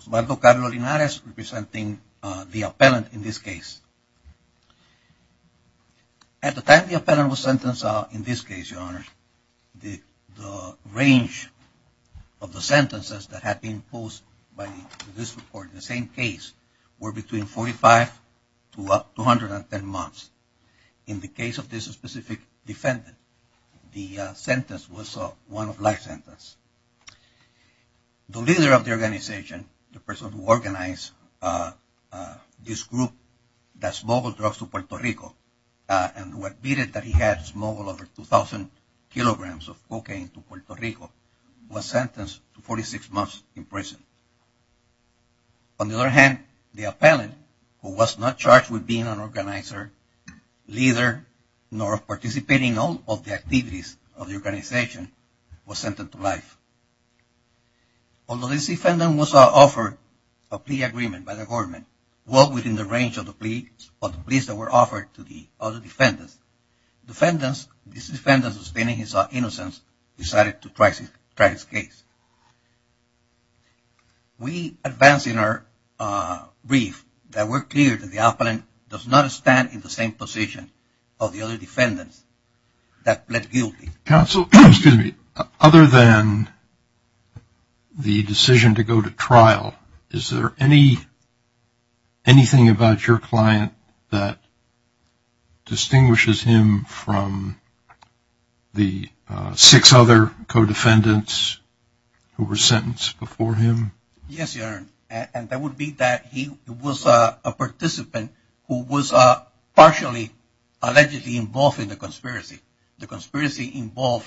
Osvaldo Carlos Linares, representing the appellant in this case. At the time the appellant was sentenced in this case, Your Honor, the range of the sentences that had been posed by this court in the same case were between 45 to up to 110 months. In the case of this specific defendant, the sentence was one of life sentence. The leader of the organization, the person who organized this group that smuggled drugs to Puerto Rico and who admitted that he had smuggled over 2,000 kilograms of cocaine to Puerto Rico, was sentenced to 46 months in prison. On the other hand, the appellant, who was not charged with being an organizer, leader, nor participating in all of the activities of the organization, was sentenced to life. Although this defendant was offered a plea agreement by the government, well within the range of the pleas that were offered to the other defendants, this defendant, sustaining his innocence, decided to try his case. We advance in our brief that we're clear that the appellant does not stand in the same position of the other defendants that pled guilty. Counsel, other than the decision to go to trial, is there anything about your client that distinguishes him from the six other co-defendants who were sentenced before him? Yes, Your Honor, and that would be that he was a participant who was partially allegedly involved in the conspiracy. The conspiracy involved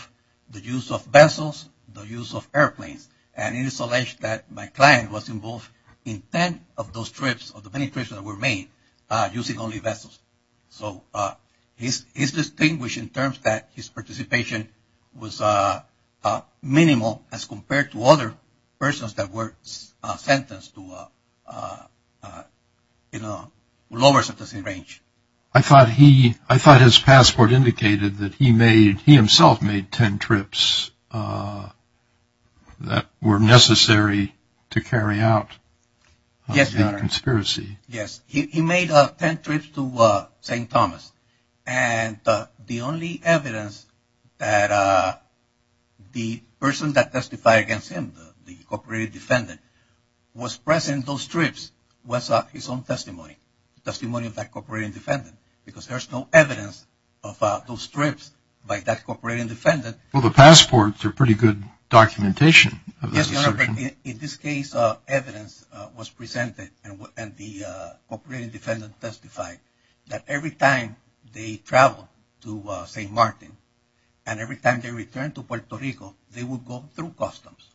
the use of vessels, the use of airplanes, and it is alleged that my client was involved in ten of those trips, of the many trips that were made, using only vessels. So he's distinguished in terms that his participation was minimal as compared to other persons that were sentenced to a lower sentencing range. I thought he, I thought his passport indicated that he made, he himself made ten trips that were necessary to carry out the conspiracy. Yes, Your Honor, yes, he made ten trips to St. Thomas, and the only evidence that the person that testified against him, the cooperating defendant, was present in those trips was his own testimony, testimony of that cooperating defendant, because there's no evidence of those trips by that cooperating defendant. Well, the passports are pretty good documentation of this assertion. Yes, Your Honor, but in this case, evidence was presented, and the cooperating defendant testified that every time they traveled to St. Martin, and every time they returned to Puerto Rico, they would go through customs.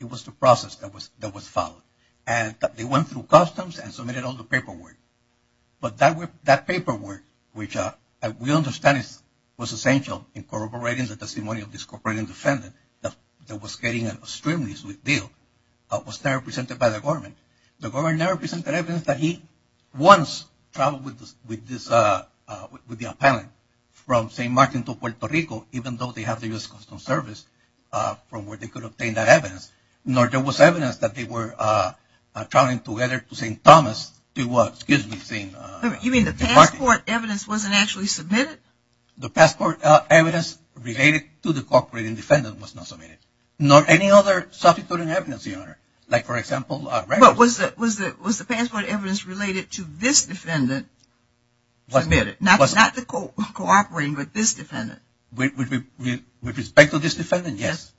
It was the process that was followed. And they went through customs and submitted all the paperwork. But that paperwork, which we understand was essential in corroborating the testimony of this cooperating defendant that was getting an extremely sweet deal, was never presented by the government. The government never presented evidence that he once traveled with this, with the appellant from St. Martin to Puerto Rico, even though they have the U.S. Customs Service, from where they could obtain that evidence. Nor there was evidence that they were traveling together to St. Thomas to, excuse me, St. Martin. You mean the passport evidence wasn't actually submitted? The passport evidence related to the cooperating defendant was not submitted. Nor any other substituting evidence, Your Honor. Like, for example, records. But was the passport evidence related to this defendant? Submitted. Not the cooperating, but this defendant? With respect to this defendant, yes.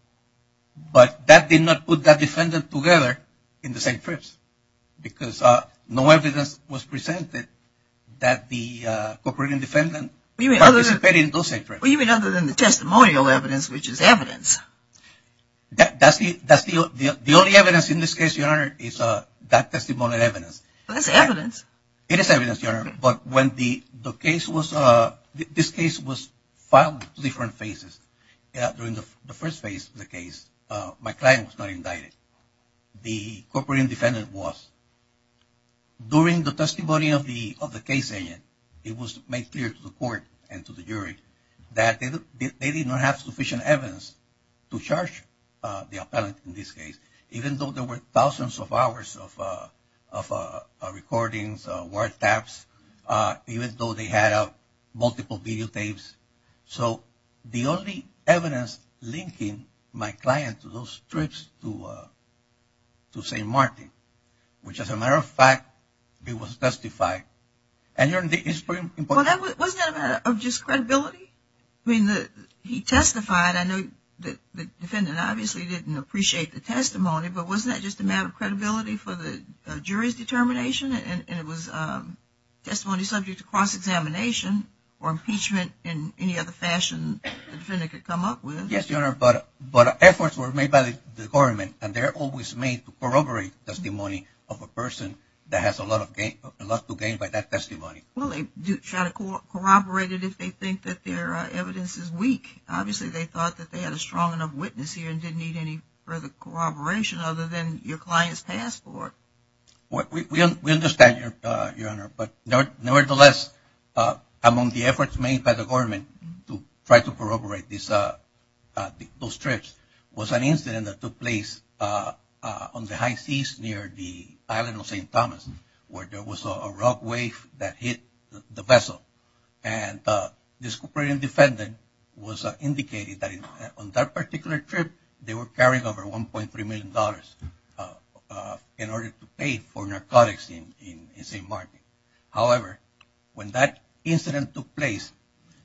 But that did not put that defendant together in the same trips. Because no evidence was presented that the cooperating defendant participated in those same trips. You mean other than the testimonial evidence, which is evidence? That's the only evidence in this case, Your Honor, is that testimonial evidence. That's evidence. It is evidence, Your Honor. But when the case was, this case was filed in different phases. During the first phase of the case, my client was not indicted. The cooperating defendant was. During the testimony of the case agent, it was made clear to the court and to the jury that they did not have sufficient evidence to charge the appellant in this case, even though there were thousands of hours of recordings, word taps, even though they had multiple videotapes. So the only evidence linking my client to those trips to St. Martin, which as a matter of fact, it was testified, and Your Honor, it's pretty important. Wasn't that a matter of just credibility? I mean, he testified. I know the defendant obviously didn't appreciate the testimony, but wasn't that just a matter of credibility for the jury's determination? And it was testimony subject to cross-examination or impeachment in any other fashion the defendant could come up with. Yes, Your Honor, but efforts were made by the government, and they're always made to corroborate testimony of a person that has a lot to gain by that testimony. Well, they do try to corroborate it if they think that their evidence is weak. Obviously, they thought that they had a strong enough witness here and didn't need any further corroboration other than your client's passport. We understand, Your Honor, but nevertheless, among the efforts made by the government to try to corroborate those trips was an incident that took place on the high seas near the island of St. Thomas, where there was a rock wave that hit the vessel. And this cooperating defendant was indicating that on that particular trip, they were carrying over $1.3 million in order to pay for narcotics in St. Martin. However, when that incident took place,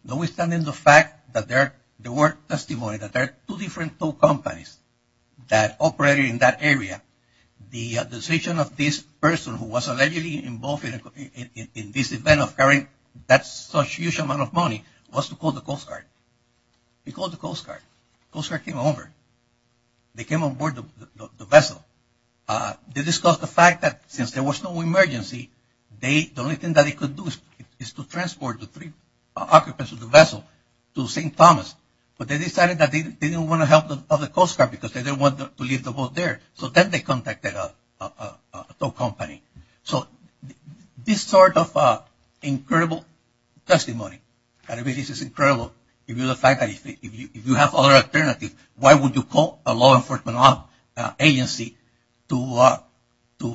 notwithstanding the fact that there were testimony that there were two different tow companies that operated in that area, the decision of this person who was allegedly involved in this event of carrying that huge amount of money was to call the Coast Guard. They called the Coast Guard. The Coast Guard came over. They came on board the vessel. They discussed the fact that since there was no emergency, the only thing that they could do is to transport the three occupants of the vessel to St. Thomas, but they decided that they didn't want to help the Coast Guard because they didn't want to leave the boat there. So then they contacted a tow company. So this sort of incredible testimony, and this is incredible, if you have other alternatives, why would you call a law enforcement agency to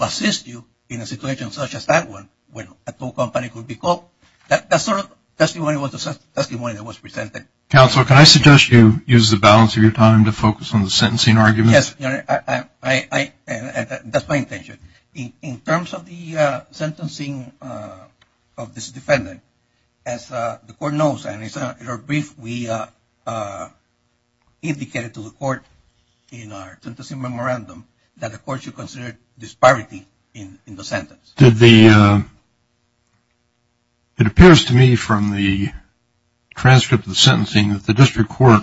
assist you in a situation such as that one when a tow company could be called? That sort of testimony was the testimony that was presented. Counsel, can I suggest you use the balance of your time to focus on the sentencing arguments? Yes, that's my intention. In terms of the sentencing of this defendant, as the court knows, and it's very brief, we indicated to the court in our sentencing memorandum that the court should consider disparity in the sentence. Did the, it appears to me from the transcript of the sentencing that the district court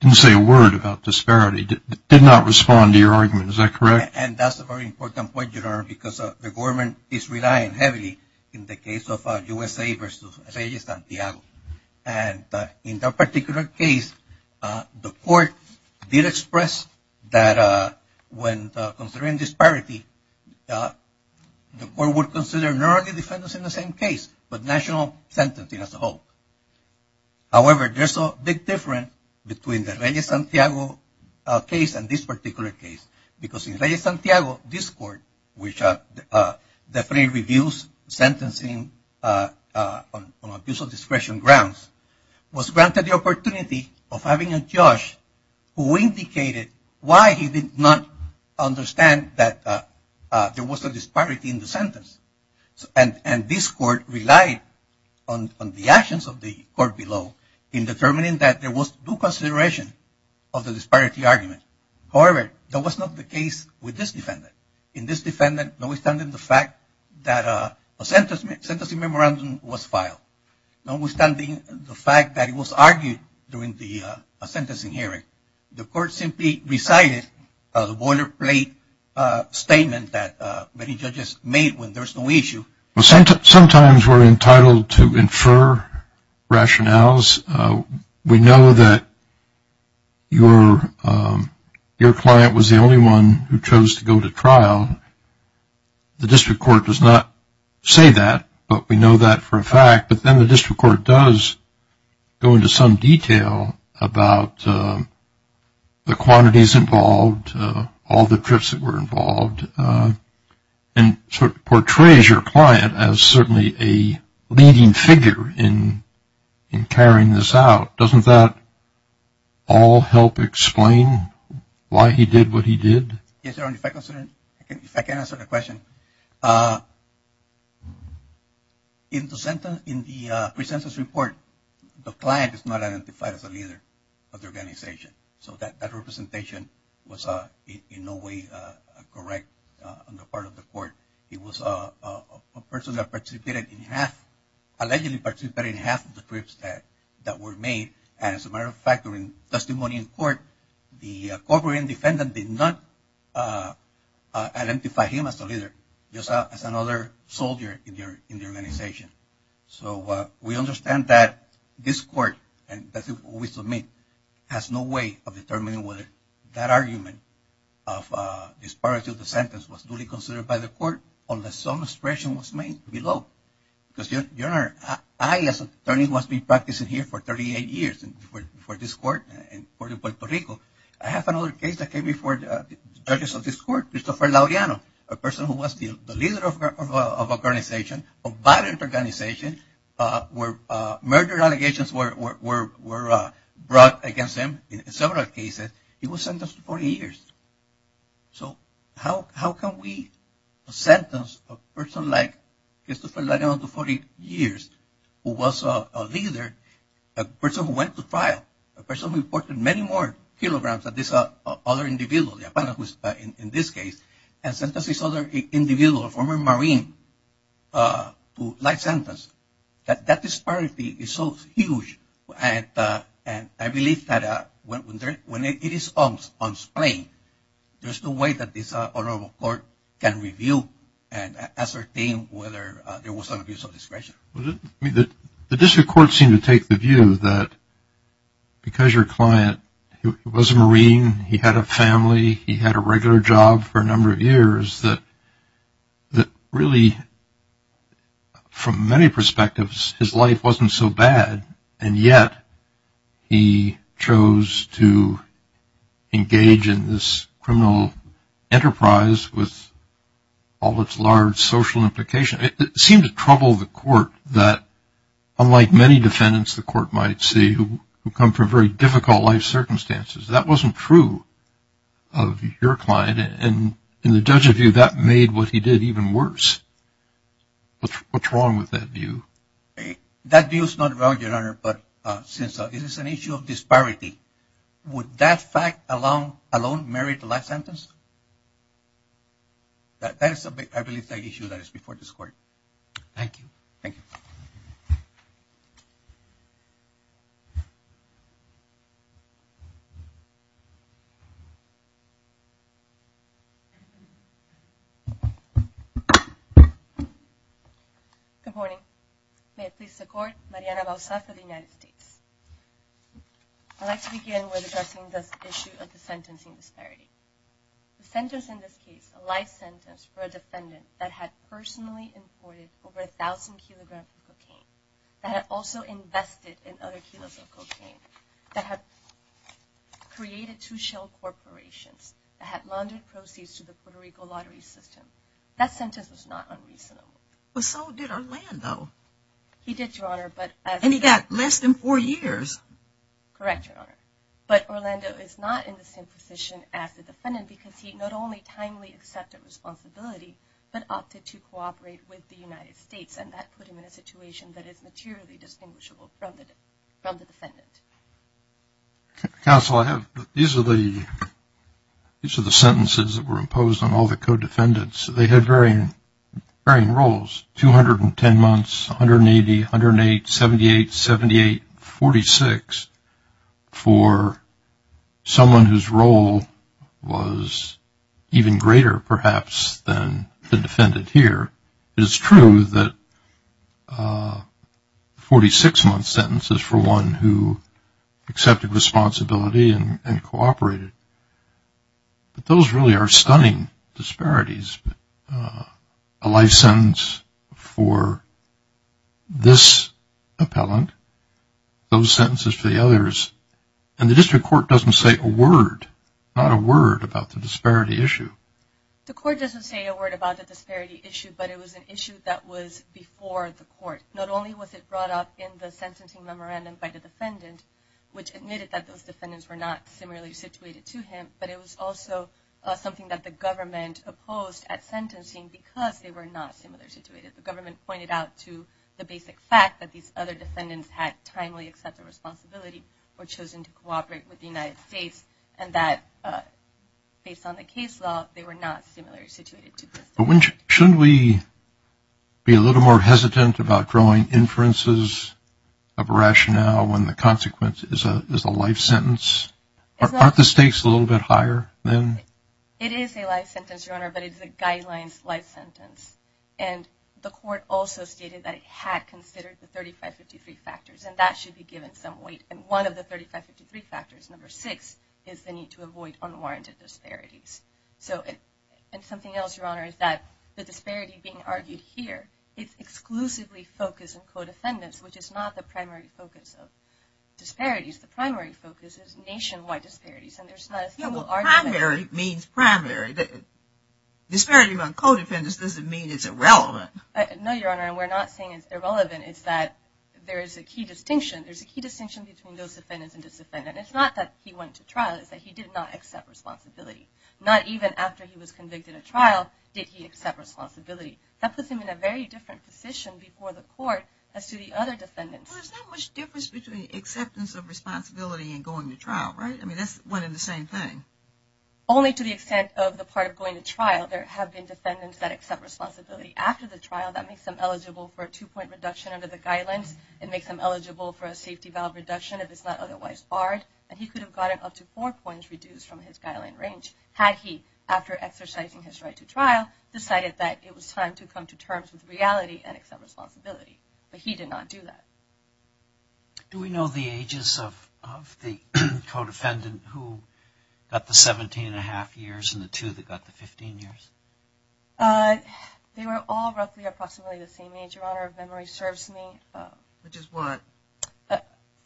didn't say a word about disparity, did not respond to your argument. Is that correct? And that's a very important point, Your Honor, because the government is relying heavily in the case of USA versus San Diego. And in that particular case, the court did express that when considering disparity, the court would consider not only defendants in the same case, but national sentencing as a whole. However, there's a big difference between the Reyes-Santiago case and this particular case, because in Reyes-Santiago, this court, which definitely reviews sentencing on abuse of discretion grounds, was granted the opportunity of having a judge who indicated why he did not understand that there was a disparity in the sentence. And this court relied on the actions of the court below in determining that there was due consideration of the disparity argument. However, that was not the case with this defendant. In this defendant, notwithstanding the fact that a sentencing memorandum was filed, notwithstanding the fact that it was argued during the sentencing hearing, the court simply recited the boilerplate statement that many judges make when there's no issue. Sometimes we're entitled to infer rationales. We know that your client was the only one who chose to go to trial. The district court does not say that, but we know that for a fact. But then the district court does go into some detail about the quantities involved, all the trips that were involved, and sort of portrays your client as certainly a leading figure in carrying this out. Doesn't that all help explain why he did what he did? Yes, Your Honor. If I can answer the question. In the pre-sentence report, the client is not identified as a leader of the organization. So that representation was in no way correct on the part of the court. He was a person that allegedly participated in half of the trips that were made. As a matter of fact, during testimony in court, the covering defendant did not identify him as a leader, just as another soldier in the organization. So we understand that this court, and that's what we submit, has no way of determining whether that argument of disparity of the sentence was duly considered by the court unless some expression was made below. Because Your Honor, I as an attorney who has been practicing here for 38 years for this court in Puerto Rico, I have another case that came before the judges of this court, Christopher Lauriano, a person who was the leader of an organization of violent organization where murder allegations were brought against him in several cases. He was sentenced to 40 years. So how can we sentence a person like Christopher Lauriano to 40 years who was a leader, a person who went to trial, a person who reported many more kilograms than this other individual, the defendant in this case, and sentence this other individual, a former Marine, to life sentence? That disparity is so huge. And I believe that when it is unsplained, there's no way that this honorable court can review and ascertain whether there was an abuse of discretion. The district court seemed to take the view that because your client was a Marine, he had a family, he had a regular job for a number of years, that really, from many perspectives, his life wasn't so bad, and yet he chose to engage in this criminal enterprise with all its large social implications. It seemed to trouble the court that unlike many defendants the court might see who come from very difficult life circumstances, that wasn't true of your client. And in the judge's view, that made what he did even worse. What's wrong with that view? That view is not wrong, Your Honor, but since this is an issue of disparity, would that fact alone merit a life sentence? That is, I believe, the issue that is before this court. Thank you. Good morning. May it please the court, Mariana Balzac of the United States. I'd like to begin with addressing this issue of the sentencing disparity. The sentence in this case, a life sentence for a defendant that had personally imported over 1,000 kilograms of cocaine, that had also invested in other kilos of cocaine, that had created two shell corporations, that had laundered proceeds to the Puerto Rico lottery system. That sentence was not unreasonable. But so did Orlando. He did, Your Honor, but as... And he got less than four years. Correct, Your Honor. But Orlando is not in the same position as the defendant because he not only timely accepted responsibility, but opted to cooperate with the United States, and that put him in a situation that is materially distinguishable from the defendant. Counsel, I have... These are the sentences that were imposed on all the co-defendants. They had varying roles. 210 months, 180, 108, 78, 78, 46 for someone whose role was even greater, perhaps, than the defendant here. It is true that 46-month sentences for one who accepted responsibility and cooperated. But those really are stunning disparities. A life sentence for this appellant, those sentences for the others, and the district court doesn't say a word, not a word about the disparity issue. The court doesn't say a word about the disparity issue, but it was an issue that was before the court. Not only was it brought up in the sentencing memorandum by the defendant, which admitted that those defendants were not similarly situated to him, but it was also something that the government opposed at sentencing because they were not similarly situated. The government pointed out to the basic fact that these other defendants had timely accepted responsibility or chosen to cooperate with the United States, and that, based on the case law, they were not similarly situated to this. Shouldn't we be a little more hesitant about drawing inferences of rationale when the consequence is a life sentence? Aren't the stakes a little bit higher? It is a life sentence, Your Honor, but it's a guidelines life sentence. And the court also stated that it had considered the 3553 factors, and that should be given some weight. And one of the 3553 factors, number six, is the need to avoid unwarranted disparities. And something else, Your Honor, is that the disparity being argued here is exclusively focused on co-defendants, which is not the primary focus of disparities. The primary focus is nationwide disparities, and there's not a single argument. Primary means primary. Disparity among co-defendants doesn't mean it's irrelevant. No, Your Honor, and we're not saying it's irrelevant. It's that there is a key distinction. There's a key distinction between those defendants and dis-defendants. It's not that he went to trial. It's that he did not accept responsibility. Not even after he was convicted of trial did he accept responsibility. That puts him in a very different position before the court as to the other defendants. He accepted responsibility in going to trial, right? I mean, that's one and the same thing. Only to the extent of the part of going to trial there have been defendants that accept responsibility after the trial. That makes them eligible for a two-point reduction under the guidelines. It makes them eligible for a safety valve reduction if it's not otherwise barred. And he could have gotten up to four points reduced from his guideline range had he, after exercising his right to trial, decided that it was time to come to terms with reality and accept responsibility. But he did not do that. Of the co-defendant who got the 17 and a half years and the two that got the 15 years? They were all roughly approximately the same age, Your Honor, if memory serves me. Which is what?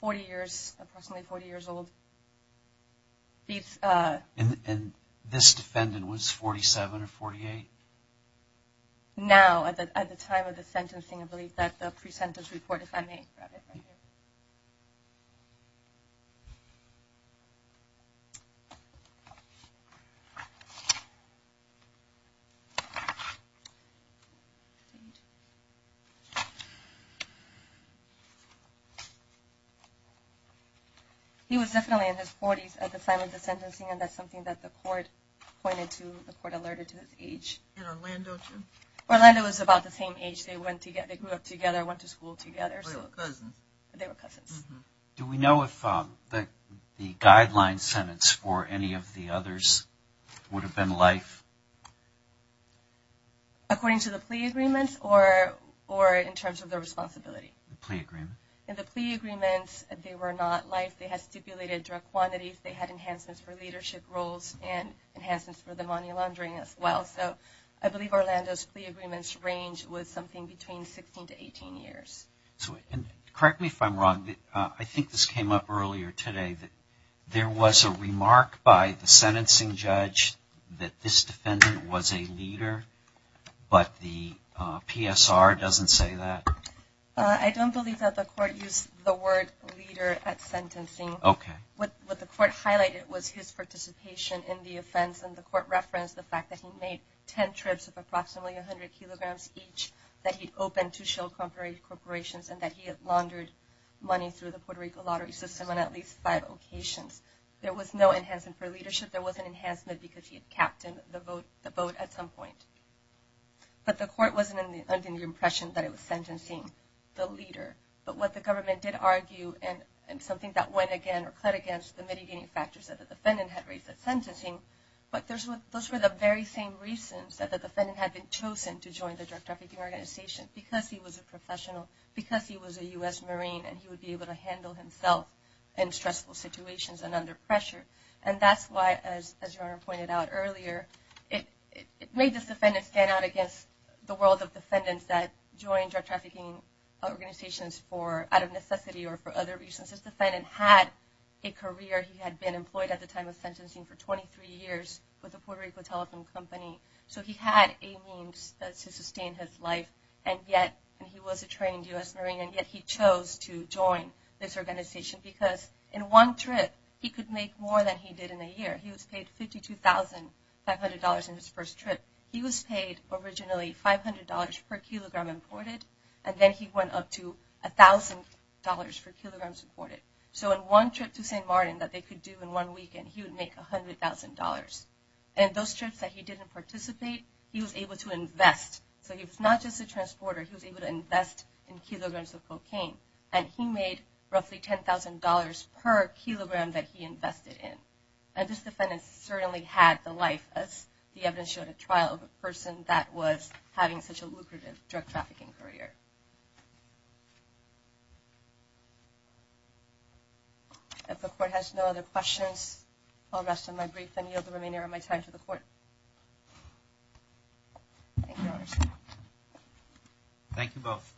Approximately 40 years old. And this defendant was 47 or 48? Now, at the time of the sentencing, I believe that the pre-sentence report, if I may grab it. Thank you. He was definitely in his 40s at the time of the sentencing and that's something that the court pointed to, the court alerted to his age. And Orlando too? Orlando was about the same age. They were cousins. Do we know if the guideline sentence for any of the others would have been life? According to the plea agreements or in terms of the responsibility? The plea agreement. In the plea agreements, they were not life. They had stipulated drug quantities. They had enhancements for leadership roles and enhancements for the money laundering as well. So I believe Orlando's plea agreements ranged with something between 16 to 18 years. Correct me if I'm wrong, I think this came up earlier today that there was a remark by the sentencing judge that this defendant was a leader but the PSR doesn't say that? I don't believe that the court used the word leader at sentencing. Okay. What the court highlighted was his participation in the offense and the court referenced the fact that he made 10 trips of approximately 100 kilograms each and that he had laundered money through the Puerto Rico lottery system on at least five occasions. There was no enhancement for leadership. There was an enhancement because he had captained the boat at some point. But the court wasn't under the impression that it was sentencing the leader. But what the government did argue and something that went again or clad against the mitigating factors that the defendant had raised at sentencing, but those were the very same reasons that the defendant had been chosen to join the drug trafficking organization because he was a U.S. Marine and he would be able to handle himself in stressful situations and under pressure. And that's why, as your Honor pointed out earlier, it made this defendant stand out against the world of defendants that joined drug trafficking organizations out of necessity or for other reasons. This defendant had a career. He had been employed at the time of sentencing for 23 years with the Puerto Rico Telephone Company. So he had a means to sustain his life and yet he was a trained U.S. Marine and yet he chose to join this organization because in one trip he could make more than he did in a year. He was paid $52,500 in his first trip. He was paid originally $500 per kilogram imported and then he went up to $1,000 per kilogram imported. So in one trip to St. Martin that they could do in one weekend, he would make $100,000. And in those trips that he didn't participate, he was able to invest. So he was not just a transporter, he was able to invest in kilograms of cocaine and he made roughly $10,000 per kilogram that he invested in. And this defendant certainly had the life as the evidence showed, a trial of a person that was having such a lucrative drug trafficking career. If the Court has no other questions, I'll rest on my brief and yield the remainder of my time to the Court. Thank you, Your Honor. Thank you both.